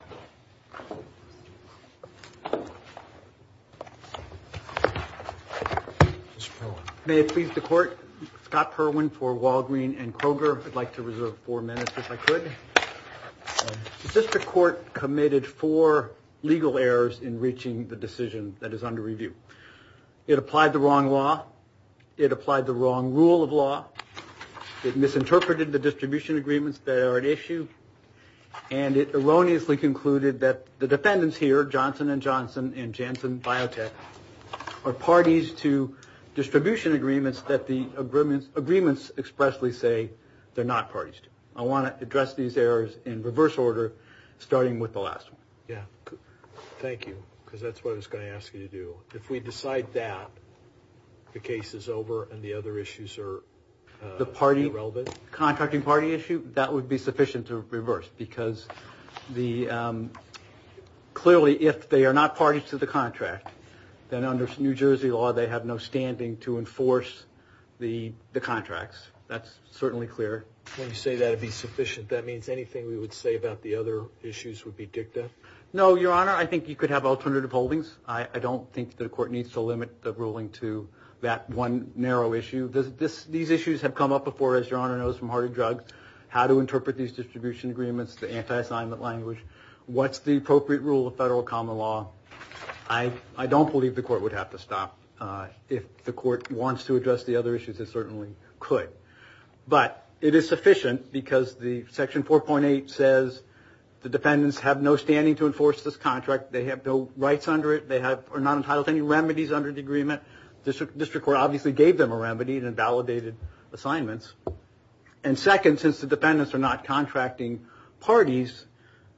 . May it please the court. Scott Perwin for Walgreen and Kroger. I'd like to reserve four minutes if I could. The district court committed four legal errors in reaching the decision that is under review. It applied the wrong law. It applied the wrong rule of law. It misinterpreted the distribution agreements that are at issue. And it erroneously concluded that the defendants here, Johnson&Johnson and Janssen Biotech, are parties to distribution agreements that the agreements expressly say they're not parties to. I want to address these errors in reverse order, starting with the last one. Yeah. Thank you. Because that's what I was going to ask you to do. So if we decide that the case is over and the other issues are irrelevant? The contracting party issue, that would be sufficient to reverse, because clearly if they are not parties to the contract, then under New Jersey law they have no standing to enforce the contracts. That's certainly clear. When you say that would be sufficient, that means anything we would say about the other issues would be dicta? No, Your Honor. I think you could have alternative holdings. I don't think the court needs to limit the ruling to that one narrow issue. These issues have come up before, as Your Honor knows from Hardy Drugs, how to interpret these distribution agreements, the anti-assignment language, what's the appropriate rule of federal common law. I don't believe the court would have to stop. If the court wants to address the other issues, it certainly could. But it is sufficient because Section 4.8 says the defendants have no standing to enforce this contract. They have no rights under it. They are not entitled to any remedies under the agreement. The district court obviously gave them a remedy and validated assignments. And second, since the defendants are not contracting parties,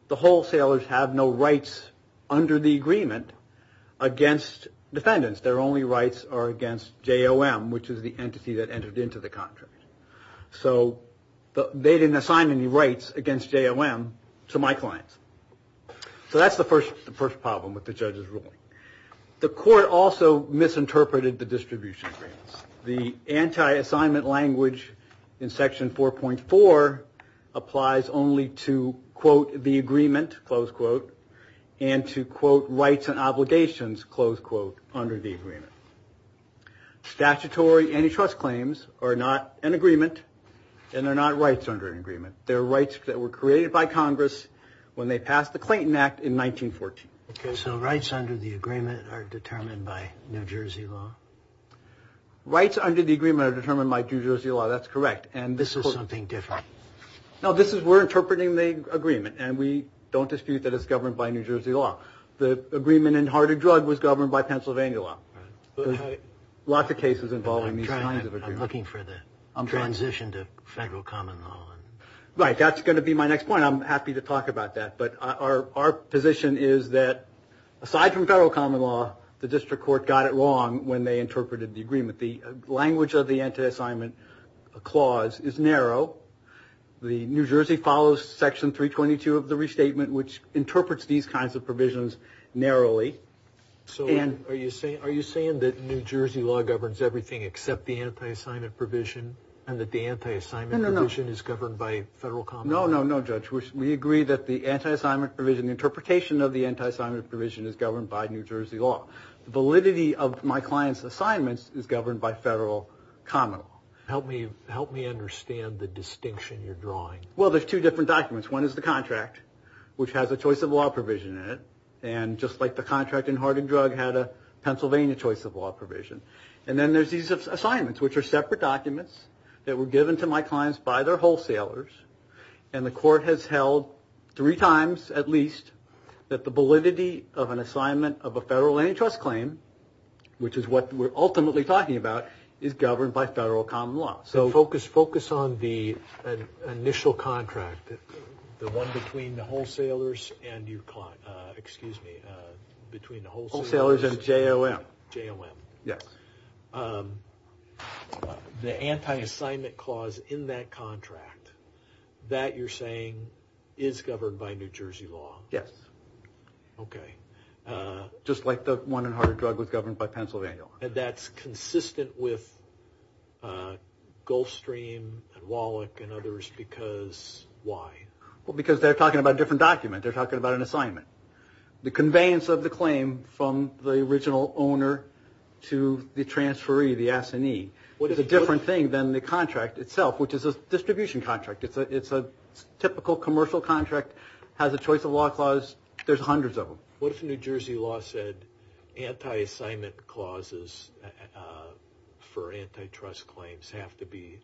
the wholesalers have no rights under the agreement against defendants. Their only rights are against JOM, which is the entity that entered into the contract. So they didn't assign any rights against JOM to my clients. So that's the first problem with the judge's ruling. The court also misinterpreted the distribution agreements. The anti-assignment language in Section 4.4 applies only to, quote, the agreement, close quote, and to, quote, rights and obligations, close quote, under the agreement. Statutory antitrust claims are not an agreement, and they're not rights under an agreement. They're rights that were created by Congress when they passed the Clayton Act in 1914. Okay, so rights under the agreement are determined by New Jersey law? Rights under the agreement are determined by New Jersey law. That's correct. This is something different. No, we're interpreting the agreement, and we don't dispute that it's governed by New Jersey law. The agreement in Harding Drug was governed by Pennsylvania law. Lots of cases involving these kinds of agreements. I'm looking for the transition to federal common law. Right, that's going to be my next point. I'm happy to talk about that, but our position is that aside from federal common law, the district court got it wrong when they interpreted the agreement. The language of the anti-assignment clause is narrow. New Jersey follows Section 322 of the restatement, which interprets these kinds of provisions narrowly. So are you saying that New Jersey law governs everything except the anti-assignment provision, and that the anti-assignment provision is governed by federal common law? No, no, no, Judge. We agree that the interpretation of the anti-assignment provision is governed by New Jersey law. The validity of my client's assignments is governed by federal common law. Help me understand the distinction you're drawing. Well, there's two different documents. One is the contract, which has a choice of law provision in it, and just like the contract in Hardin Drug had a Pennsylvania choice of law provision. And then there's these assignments, which are separate documents that were given to my clients by their wholesalers, and the court has held three times at least that the validity of an assignment of a federal antitrust claim, which is what we're ultimately talking about, is governed by federal common law. So focus on the initial contract, the one between the wholesalers and your client. Excuse me, between the wholesalers and JOM. Yes. The anti-assignment clause in that contract, that you're saying is governed by New Jersey law? Yes. Okay. Just like the one in Hardin Drug was governed by Pennsylvania law. That's consistent with Gulfstream and Wallach and others, because why? Well, because they're talking about a different document. They're talking about an assignment. The conveyance of the claim from the original owner to the transferee, the assignee, is a different thing than the contract itself, which is a distribution contract. It's a typical commercial contract, has a choice of law clause. There's hundreds of them. What if New Jersey law said anti-assignment clauses for antitrust claims have to be,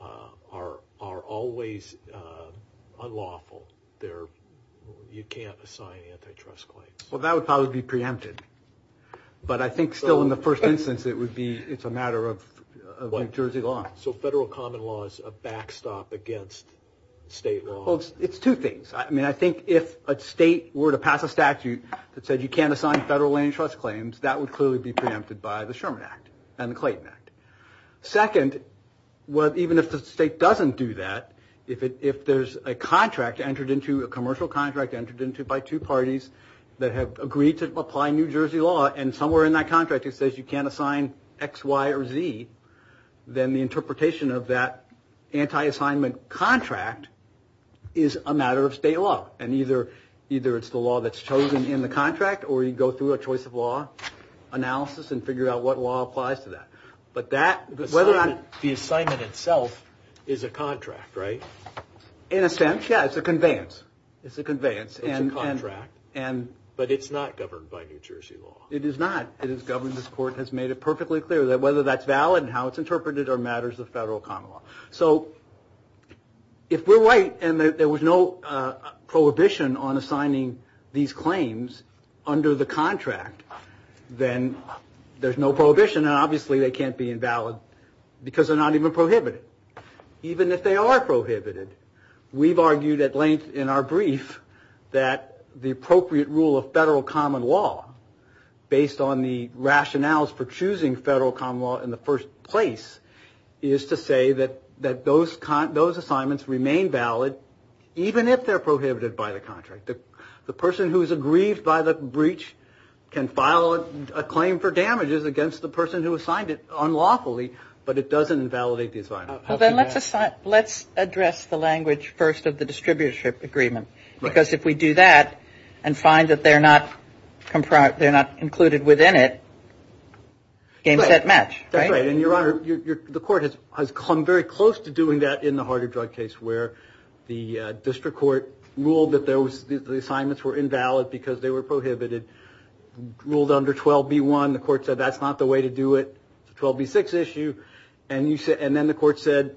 are always unlawful? You can't assign antitrust claims. Well, that would probably be preempted. But I think still in the first instance it would be, it's a matter of New Jersey law. So federal common law is a backstop against state law. Well, it's two things. I mean, I think if a state were to pass a statute that said you can't assign federal antitrust claims, that would clearly be preempted by the Sherman Act and the Clayton Act. Second, even if the state doesn't do that, if there's a contract entered into, a commercial contract entered into by two parties that have agreed to apply New Jersey law, and somewhere in that contract it says you can't assign X, Y, or Z, then the interpretation of that anti-assignment contract is a matter of state law. And either it's the law that's chosen in the contract, or you go through a choice of law analysis and figure out what law applies to that. But that, whether or not the assignment itself is a contract, right? In a sense, yeah. It's a conveyance. It's a conveyance. It's a contract. But it's not governed by New Jersey law. It is not. It is governed, this court has made it perfectly clear, that whether that's valid and how it's interpreted are matters of federal common law. So if we're right and there was no prohibition on assigning these claims under the contract, then there's no prohibition, and obviously they can't be invalid because they're not even prohibited. Even if they are prohibited, we've argued at length in our brief that the appropriate rule of federal common law, based on the rationales for choosing federal common law in the first place, is to say that those assignments remain valid even if they're prohibited by the contract. The person who is aggrieved by the breach can file a claim for damages against the person who assigned it unlawfully, but it doesn't invalidate the assignment. Well, then let's address the language first of the distributorship agreement. Because if we do that and find that they're not included within it, game, set, match. That's right. And, Your Honor, the court has come very close to doing that in the harder drug case where the district court ruled that the assignments were invalid because they were prohibited, ruled under 12B1, the court said that's not the way to do it, 12B6 issue, and then the court said,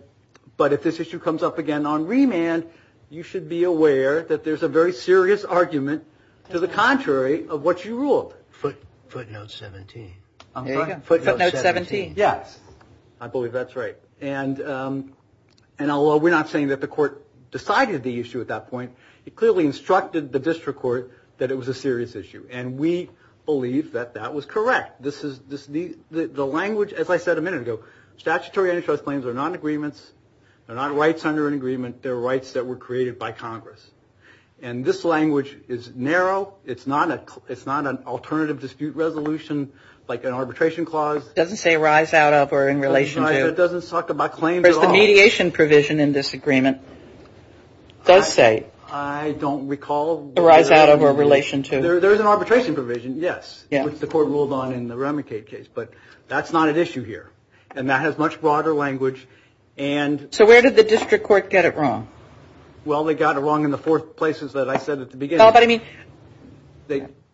but if this issue comes up again on remand, you should be aware that there's a very serious argument to the contrary of what you ruled. Footnote 17. There you go. Footnote 17. Yes. I believe that's right. And although we're not saying that the court decided the issue at that point, it clearly instructed the district court that it was a serious issue, and we believe that that was correct. The language, as I said a minute ago, statutory antitrust claims are not agreements. They're not rights under an agreement. They're rights that were created by Congress. And this language is narrow. It's not an alternative dispute resolution like an arbitration clause. It doesn't say rise out of or in relation to. It doesn't talk about claims at all. The mediation provision in this agreement does say. I don't recall. Rise out of or relation to. There is an arbitration provision, yes, which the court ruled on in the Remicade case. But that's not at issue here. And that has much broader language. So where did the district court get it wrong? Well, they got it wrong in the four places that I said at the beginning. But I mean.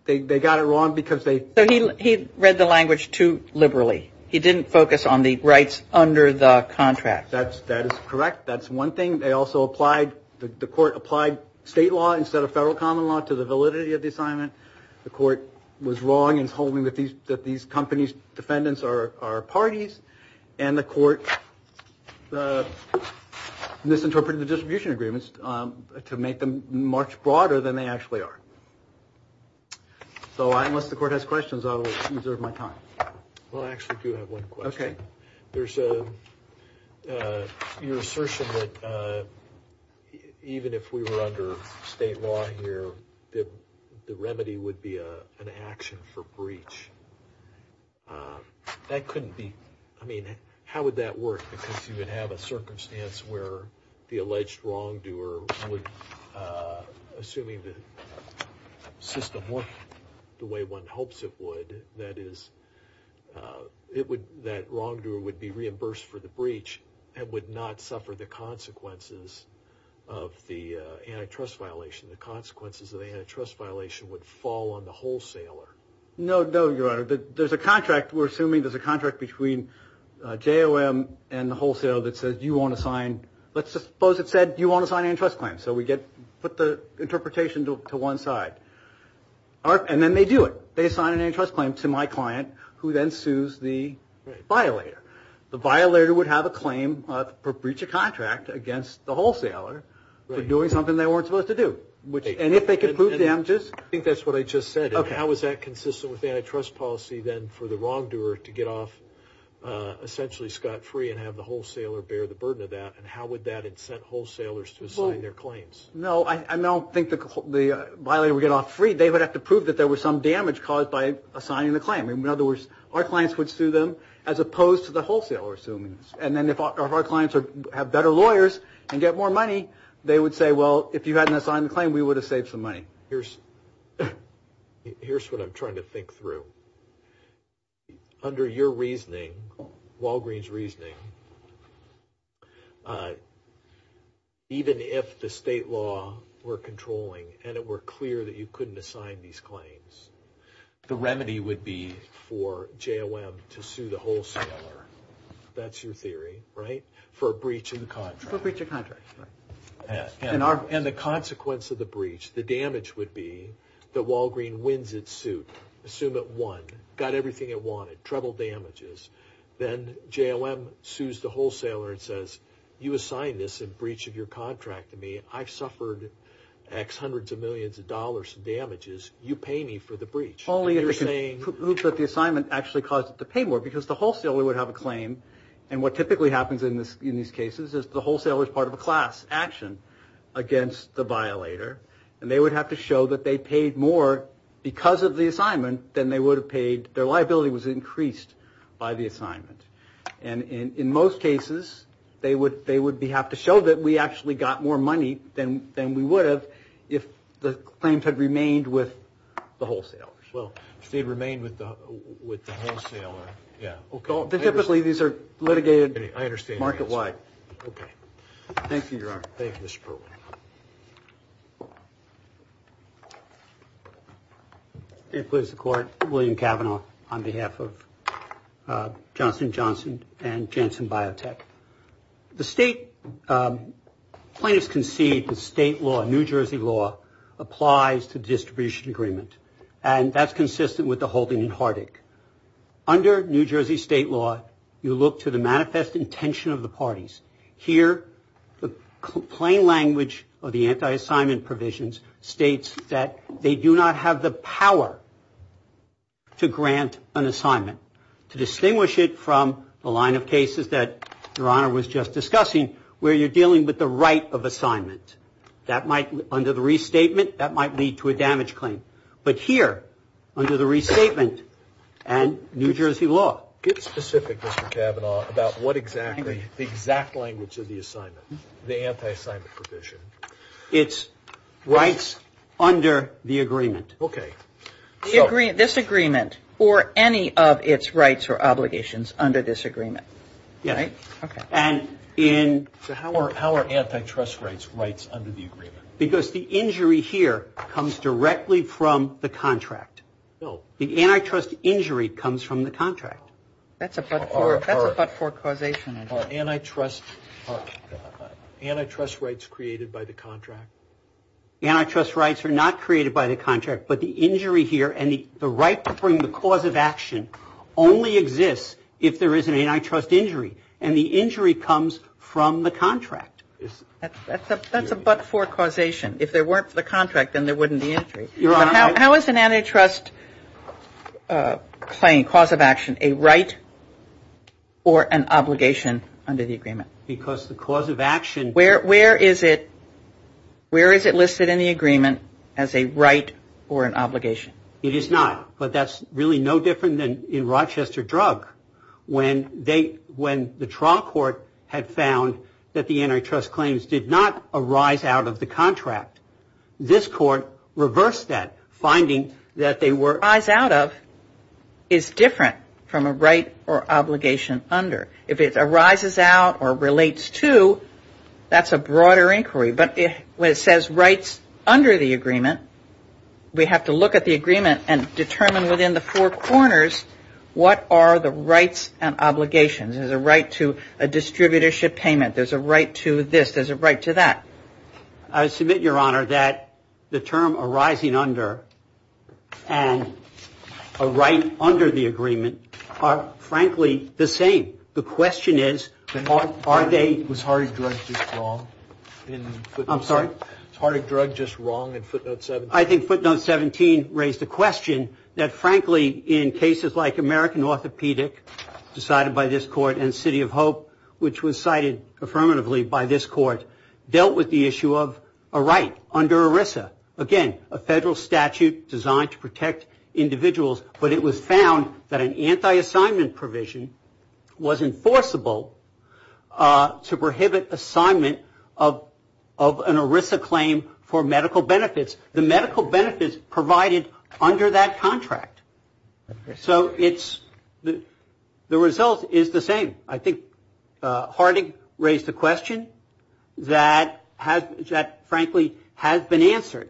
They got it wrong because they. So he read the language too liberally. He didn't focus on the rights under the contract. That is correct. That's one thing. They also applied. The court applied state law instead of federal common law to the validity of the assignment. The court was wrong in holding that these companies defendants are parties. And the court misinterpreted the distribution agreements to make them much broader than they actually are. So unless the court has questions, I will reserve my time. Well, I actually do have one question. There's a. Your assertion that even if we were under state law here, the remedy would be an action for breach. That couldn't be. I mean, how would that work? Because you would have a circumstance where the alleged wrongdoer would assuming the system work the way one hopes it would. That is, it would that wrongdoer would be reimbursed for the breach and would not suffer the consequences of the antitrust violation. The consequences of the antitrust violation would fall on the wholesaler. No, no. There's a contract. We're assuming there's a contract between JOM and the wholesale that says you want to sign. Let's suppose it said you want to sign antitrust claims. So we get put the interpretation to one side. And then they do it. They sign an antitrust claim to my client who then sues the violator. The violator would have a claim for breach of contract against the wholesaler for doing something they weren't supposed to do. And if they could prove damages. I think that's what I just said. How is that consistent with antitrust policy then for the wrongdoer to get off essentially scot-free and have the wholesaler bear the burden of that? And how would that incent wholesalers to sign their claims? No, I don't think the violator would get off free. They would have to prove that there was some damage caused by assigning the claim. In other words, our clients would sue them as opposed to the wholesaler suing them. And then if our clients have better lawyers and get more money, they would say, well, if you hadn't assigned the claim, we would have saved some money. Here's what I'm trying to think through. Under your reasoning, Walgreen's reasoning, even if the state law were controlling and it were clear that you couldn't assign these claims, the remedy would be for JOM to sue the wholesaler. That's your theory, right? For a breach of contract. For a breach of contract. And the consequence of the breach, the damage would be that Walgreen wins its suit. Assume it won, got everything it wanted, treble damages. Then JOM sues the wholesaler and says, you assigned this in breach of your contract to me. I've suffered X hundreds of millions of dollars in damages. You pay me for the breach. Only if it proves that the assignment actually caused it to pay more because the wholesaler would have a claim. And what typically happens in these cases is the wholesaler is part of a class action against the violator. And they would have to show that they paid more because of the assignment than they would have paid. Their liability was increased by the assignment. And in most cases, they would have to show that we actually got more money than we would have if the claims had remained with the wholesalers. Well, if they remained with the wholesaler. Yeah. Typically, these are litigated market-wide. Okay. Thank you, Your Honor. Thank you, Mr. Perlman. May it please the Court. William Cavanaugh on behalf of Johnson & Johnson and Janssen Biotech. The state plaintiffs concede that state law, New Jersey law, applies to distribution agreement. And that's consistent with the holding in Hardick. Under New Jersey state law, you look to the manifest intention of the parties. Here, the plain language of the anti-assignment provisions states that they do not have the power to grant an assignment. To distinguish it from the line of cases that Your Honor was just discussing where you're dealing with the right of assignment. Under the restatement, that might lead to a damage claim. But here, under the restatement and New Jersey law. Get specific, Mr. Cavanaugh, about what exactly the exact language of the assignment, the anti-assignment provision. It's rights under the agreement. Okay. This agreement or any of its rights or obligations under this agreement. Yeah. Okay. So how are antitrust rights rights under the agreement? Because the injury here comes directly from the contract. The antitrust injury comes from the contract. That's a but-for causation. Are antitrust rights created by the contract? Antitrust rights are not created by the contract. But the injury here and the right to bring the cause of action only exists if there is an antitrust injury. And the injury comes from the contract. That's a but-for causation. If there weren't for the contract, then there wouldn't be injury. But how is an antitrust claim, cause of action, a right or an obligation under the agreement? Because the cause of action Where is it listed in the agreement as a right or an obligation? It is not. But that's really no different than in Rochester drug. When the trial court had found that the antitrust claims did not arise out of the contract. This court reversed that, finding that they were Arise out of is different from a right or obligation under. If it arises out or relates to, that's a broader inquiry. But when it says rights under the agreement, we have to look at the agreement And determine within the four corners, what are the rights and obligations? There's a right to a distributorship payment. There's a right to this. There's a right to that. I submit, Your Honor, that the term arising under and a right under the agreement are frankly the same. The question is, are they Was heartache drug just wrong? I'm sorry. Heartache drug just wrong in footnote 17. I think footnote 17 raised a question that frankly in cases like American Orthopedic decided by this court And City of Hope, which was cited affirmatively by this court, dealt with the issue of a right under ERISA. Again, a federal statute designed to protect individuals. But it was found that an anti-assignment provision was enforceable to prohibit assignment of an ERISA claim for medical benefits. The medical benefits provided under that contract. So it's the result is the same. I think heartache raised the question that has that frankly has been answered.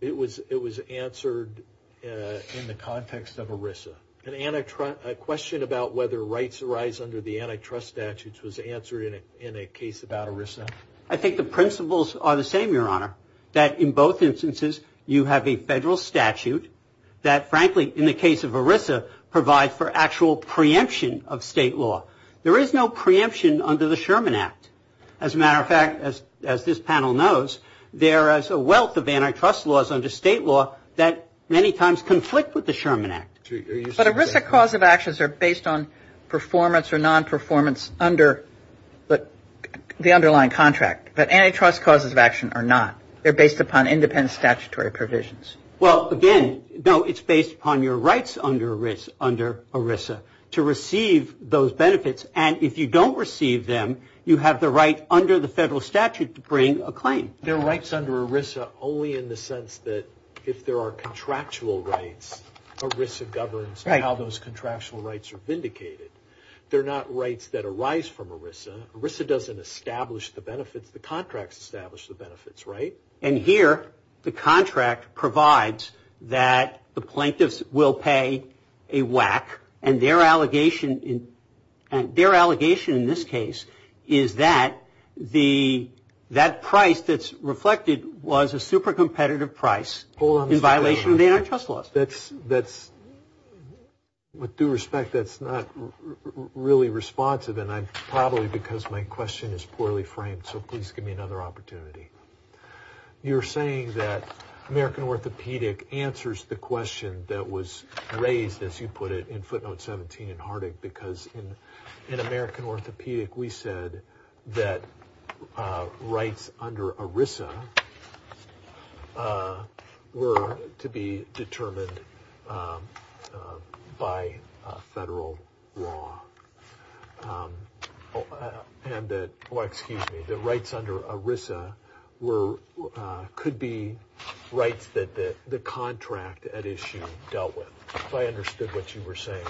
It was it was answered in the context of ERISA. And Anna, a question about whether rights arise under the antitrust statutes was answered in a case about ERISA. I think the principles are the same, Your Honor, that in both instances you have a federal statute that frankly in the case of ERISA Provide for actual preemption of state law. There is no preemption under the Sherman Act. As a matter of fact, as as this panel knows, there is a wealth of antitrust laws under state law that many times conflict with the Sherman Act. But ERISA cause of actions are based on performance or non-performance under the underlying contract. But antitrust causes of action are not. They're based upon independent statutory provisions. Well, again, no, it's based upon your rights under ERISA to receive those benefits. And if you don't receive them, you have the right under the federal statute to bring a claim. There are rights under ERISA only in the sense that if there are contractual rights, ERISA governs how those contractual rights are vindicated. They're not rights that arise from ERISA. ERISA doesn't establish the benefits. The contracts establish the benefits. Right. And here the contract provides that the plaintiffs will pay a whack. And their allegation in their allegation in this case is that the that price that's reflected was a super competitive price in violation of antitrust laws. That's that's with due respect. That's not really responsive. And I'm probably because my question is poorly framed. So please give me another opportunity. You're saying that American Orthopedic answers the question that was raised, as you put it, in footnote 17 in Hardick, because in American Orthopedic, we said that rights under ERISA were to be determined by federal law. And that, well, excuse me, the rights under ERISA were could be rights that the contract at issue dealt with. I understood what you were saying.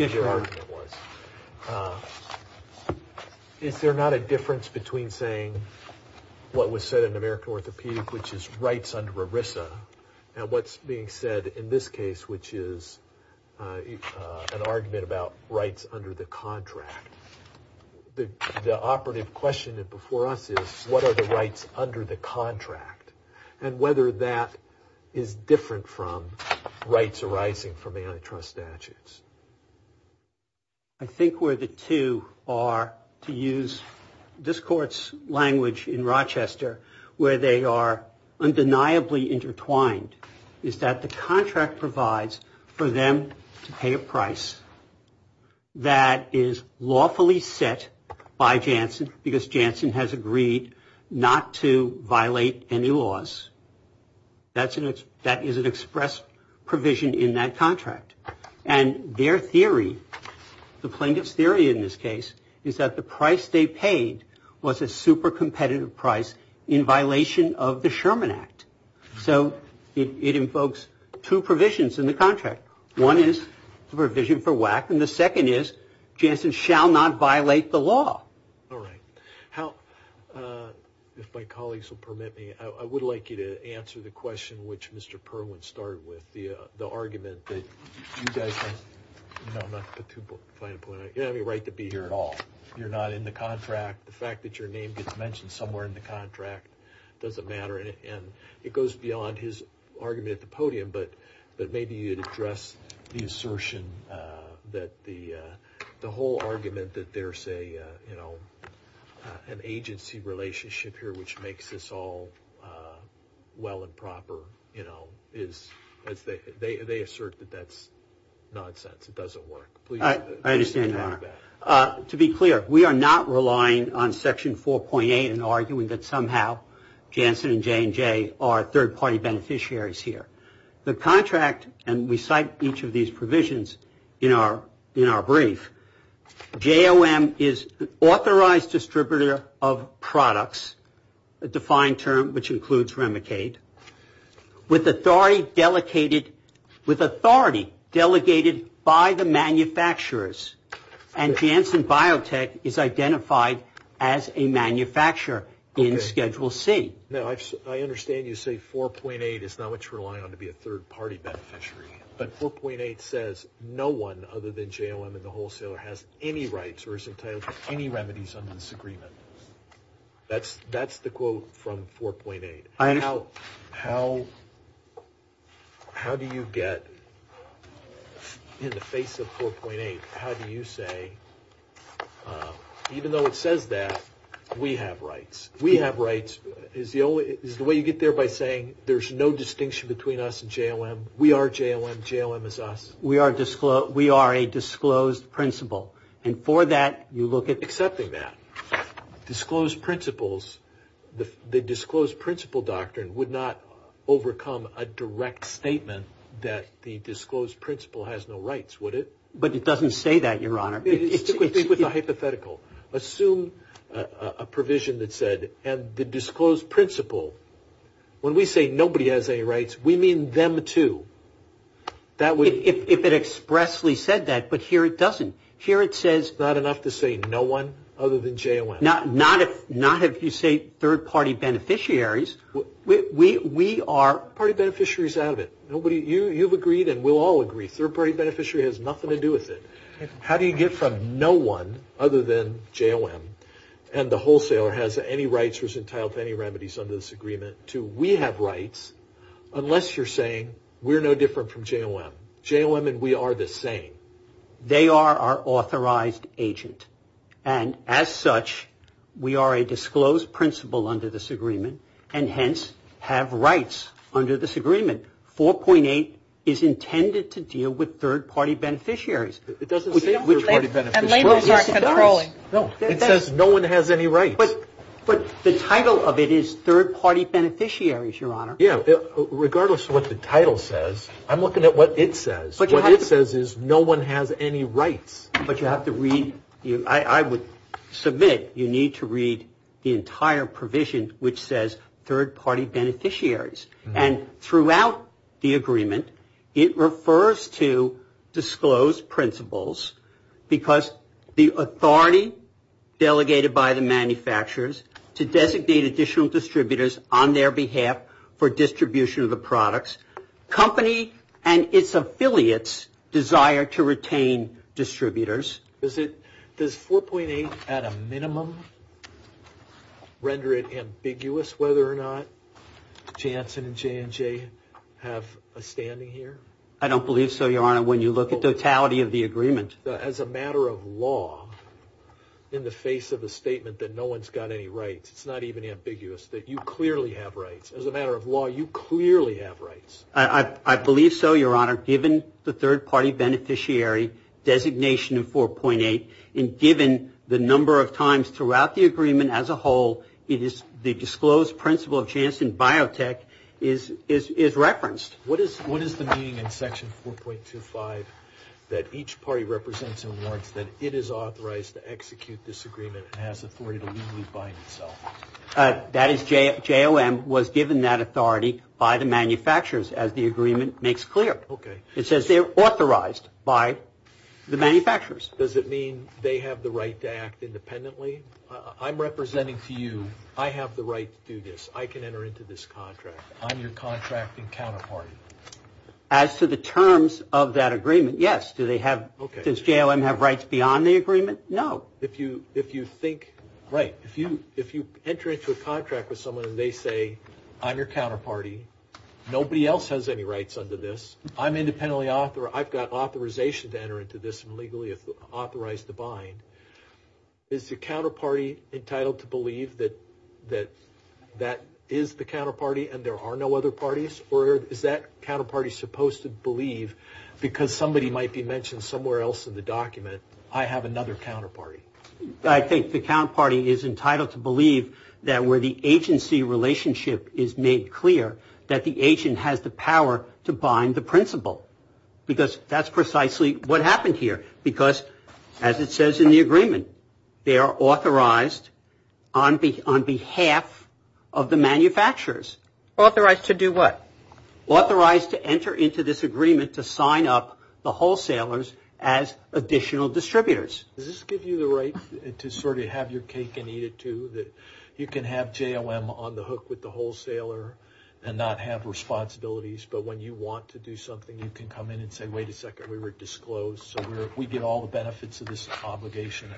Is there not a difference between saying what was said in American Orthopedic, which is rights under ERISA? And what's being said in this case, which is an argument about rights under the contract? The operative question that before us is what are the rights under the contract and whether that is different from rights arising from antitrust statutes? I think where the two are, to use this court's language in Rochester, where they are undeniably intertwined, is that the contract provides for them to pay a price that is lawfully set by Janssen, because Janssen has agreed not to violate any laws. That is an express provision in that contract. And their theory, the plaintiff's theory in this case, is that the price they paid was a super competitive price in violation of the Sherman Act. So it invokes two provisions in the contract. One is the provision for WACC, and the second is Janssen shall not violate the law. All right. If my colleagues will permit me, I would like you to answer the question which Mr. Perlin started with, the argument that you guys have no right to be here at all. You're not in the contract. The fact that your name gets mentioned somewhere in the contract doesn't matter, and it goes beyond his argument at the podium, but maybe you'd address the assertion that the whole argument that there's an agency relationship here which makes this all well and proper, you know, they assert that that's nonsense. It doesn't work. I understand, Your Honor. To be clear, we are not relying on Section 4.8 and arguing that somehow Janssen and J&J are third-party beneficiaries here. The contract, and we cite each of these provisions in our brief, JOM is an authorized distributor of products, a defined term which includes Remicade, with authority delegated by the manufacturers, and Janssen Biotech is identified as a manufacturer in Schedule C. Now, I understand you say 4.8 is not what you're relying on to be a third-party beneficiary, but 4.8 says no one other than JOM and the wholesaler has any rights or is entitled to any remedies under this agreement. That's the quote from 4.8. How do you get, in the face of 4.8, how do you say, even though it says that, we have rights? We have rights. Is the way you get there by saying there's no distinction between us and JOM? We are JOM, JOM is us. We are a disclosed principle, and for that you look at Accepting that. Disclosed principles, the disclosed principle doctrine would not overcome a direct statement that the disclosed principle has no rights, would it? But it doesn't say that, Your Honor. It's a hypothetical. Assume a provision that said, and the disclosed principle, when we say nobody has any rights, we mean them too. If it expressly said that, but here it doesn't. Here it says Not enough to say no one other than JOM. Not if you say third-party beneficiaries. We are Third-party beneficiaries out of it. You've agreed and we'll all agree, third-party beneficiary has nothing to do with it. How do you get from no one other than JOM, and the wholesaler has any rights or is entitled to any remedies under this agreement, to we have rights, unless you're saying we're no different from JOM. JOM and we are the same. They are our authorized agent. And as such, we are a disclosed principle under this agreement, and hence have rights under this agreement. 4.8 is intended to deal with third-party beneficiaries. It doesn't say third-party beneficiaries. It says no one has any rights. But the title of it is third-party beneficiaries, Your Honor. Yeah, regardless of what the title says, I'm looking at what it says. What it says is no one has any rights. But you have to read. I would submit you need to read the entire provision, which says third-party beneficiaries. And throughout the agreement, it refers to disclosed principles because the authority delegated by the manufacturers to designate additional distributors on their behalf for distribution of the products, company and its affiliates desire to retain distributors. Does 4.8 at a minimum render it ambiguous whether or not Janssen and J&J have a standing here? I don't believe so, Your Honor, when you look at the totality of the agreement. As a matter of law, in the face of a statement that no one's got any rights, it's not even ambiguous that you clearly have rights. As a matter of law, you clearly have rights. I believe so, Your Honor, given the third-party beneficiary designation of 4.8 and given the number of times throughout the agreement as a whole the disclosed principle of Janssen Biotech is referenced. What is the meaning in Section 4.25 that each party represents and warrants that it is authorized to execute this agreement and has authority to legally bind itself? That is, JOM was given that authority by the manufacturers, as the agreement makes clear. Okay. It says they're authorized by the manufacturers. Does it mean they have the right to act independently? I'm representing to you, I have the right to do this. I can enter into this contract. I'm your contracting counterparty. As to the terms of that agreement, yes. Do they have, does JOM have rights beyond the agreement? No. If you think, right, if you enter into a contract with someone and they say, I'm your counterparty, nobody else has any rights under this, I'm independently author, I've got authorization to enter into this and legally authorize the bind, Is the counterparty entitled to believe that that is the counterparty and there are no other parties? Or is that counterparty supposed to believe, because somebody might be mentioned somewhere else in the document, I have another counterparty? I think the counterparty is entitled to believe that where the agency relationship is made clear, that the agent has the power to bind the principal. Because that's precisely what happened here. Because as it says in the agreement, they are authorized on behalf of the manufacturers. Authorized to do what? Authorized to enter into this agreement to sign up the wholesalers as additional distributors. Does this give you the right to sort of have your cake and eat it too? You can have JOM on the hook with the wholesaler and not have responsibilities, but when you want to do something, you can come in and say, wait a second, we were disclosed, so we get all the benefits of this obligation,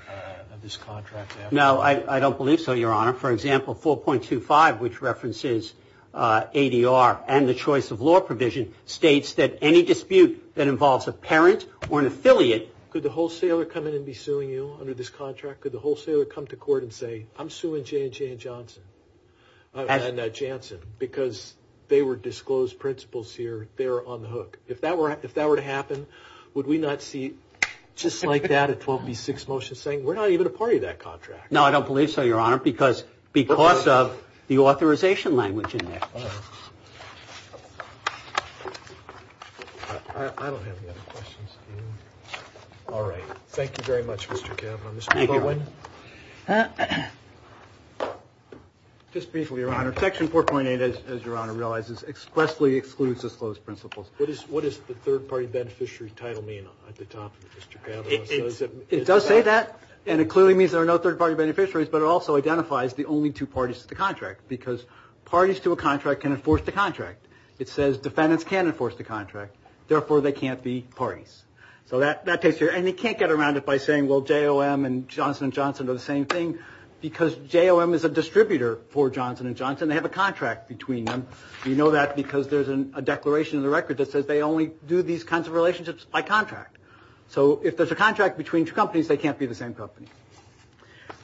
of this contract. No, I don't believe so, Your Honor. For example, 4.25, which references ADR and the choice of law provision, states that any dispute that involves a parent or an affiliate, Could the wholesaler come in and be suing you under this contract? Could the wholesaler come to court and say, I'm suing J&J and Johnson, and Janssen, because they were disclosed principals here, they're on the hook. If that were to happen, would we not see, just like that, a 12B6 motion saying, we're not even a part of that contract? No, I don't believe so, Your Honor, because of the authorization language in there. I don't have any other questions. All right, thank you very much, Mr. Cavanaugh. Mr. Baldwin? Just briefly, Your Honor, Section 4.8, as Your Honor realizes, expressly excludes disclosed principals. What does the third-party beneficiary title mean at the top of it, Mr. Cavanaugh? It does say that, and it clearly means there are no third-party beneficiaries, but it also identifies the only two parties to the contract, because parties to a contract can enforce the contract. It says defendants can't enforce the contract, therefore they can't be parties. So that takes care, and you can't get around it by saying, well, JOM and Johnson & Johnson are the same thing, because JOM is a distributor for Johnson & Johnson. They have a contract between them. We know that because there's a declaration in the record that says they only do these kinds of relationships by contract. So if there's a contract between two companies, they can't be the same company.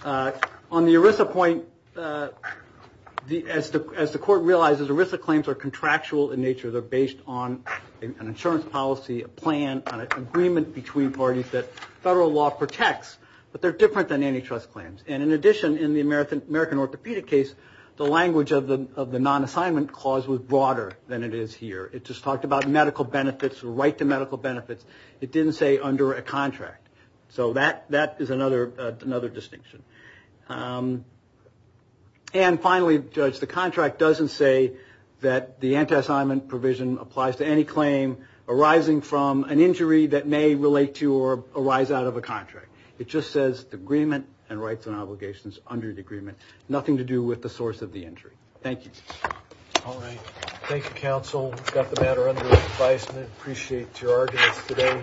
On the ERISA point, as the Court realizes, ERISA claims are contractual in nature. They're based on an insurance policy, a plan, an agreement between parties that federal law protects, but they're different than antitrust claims. And in addition, in the American Orthopedic case, the language of the non-assignment clause was broader than it is here. It just talked about medical benefits, right to medical benefits. It didn't say under a contract. So that is another distinction. And finally, Judge, the contract doesn't say that the anti-assignment provision applies to any claim arising from an injury that may relate to or arise out of a contract. It just says agreement and rights and obligations under the agreement. Nothing to do with the source of the injury. Thank you. All right. Thank you, counsel. Got the matter under advisement. Appreciate your arguments today.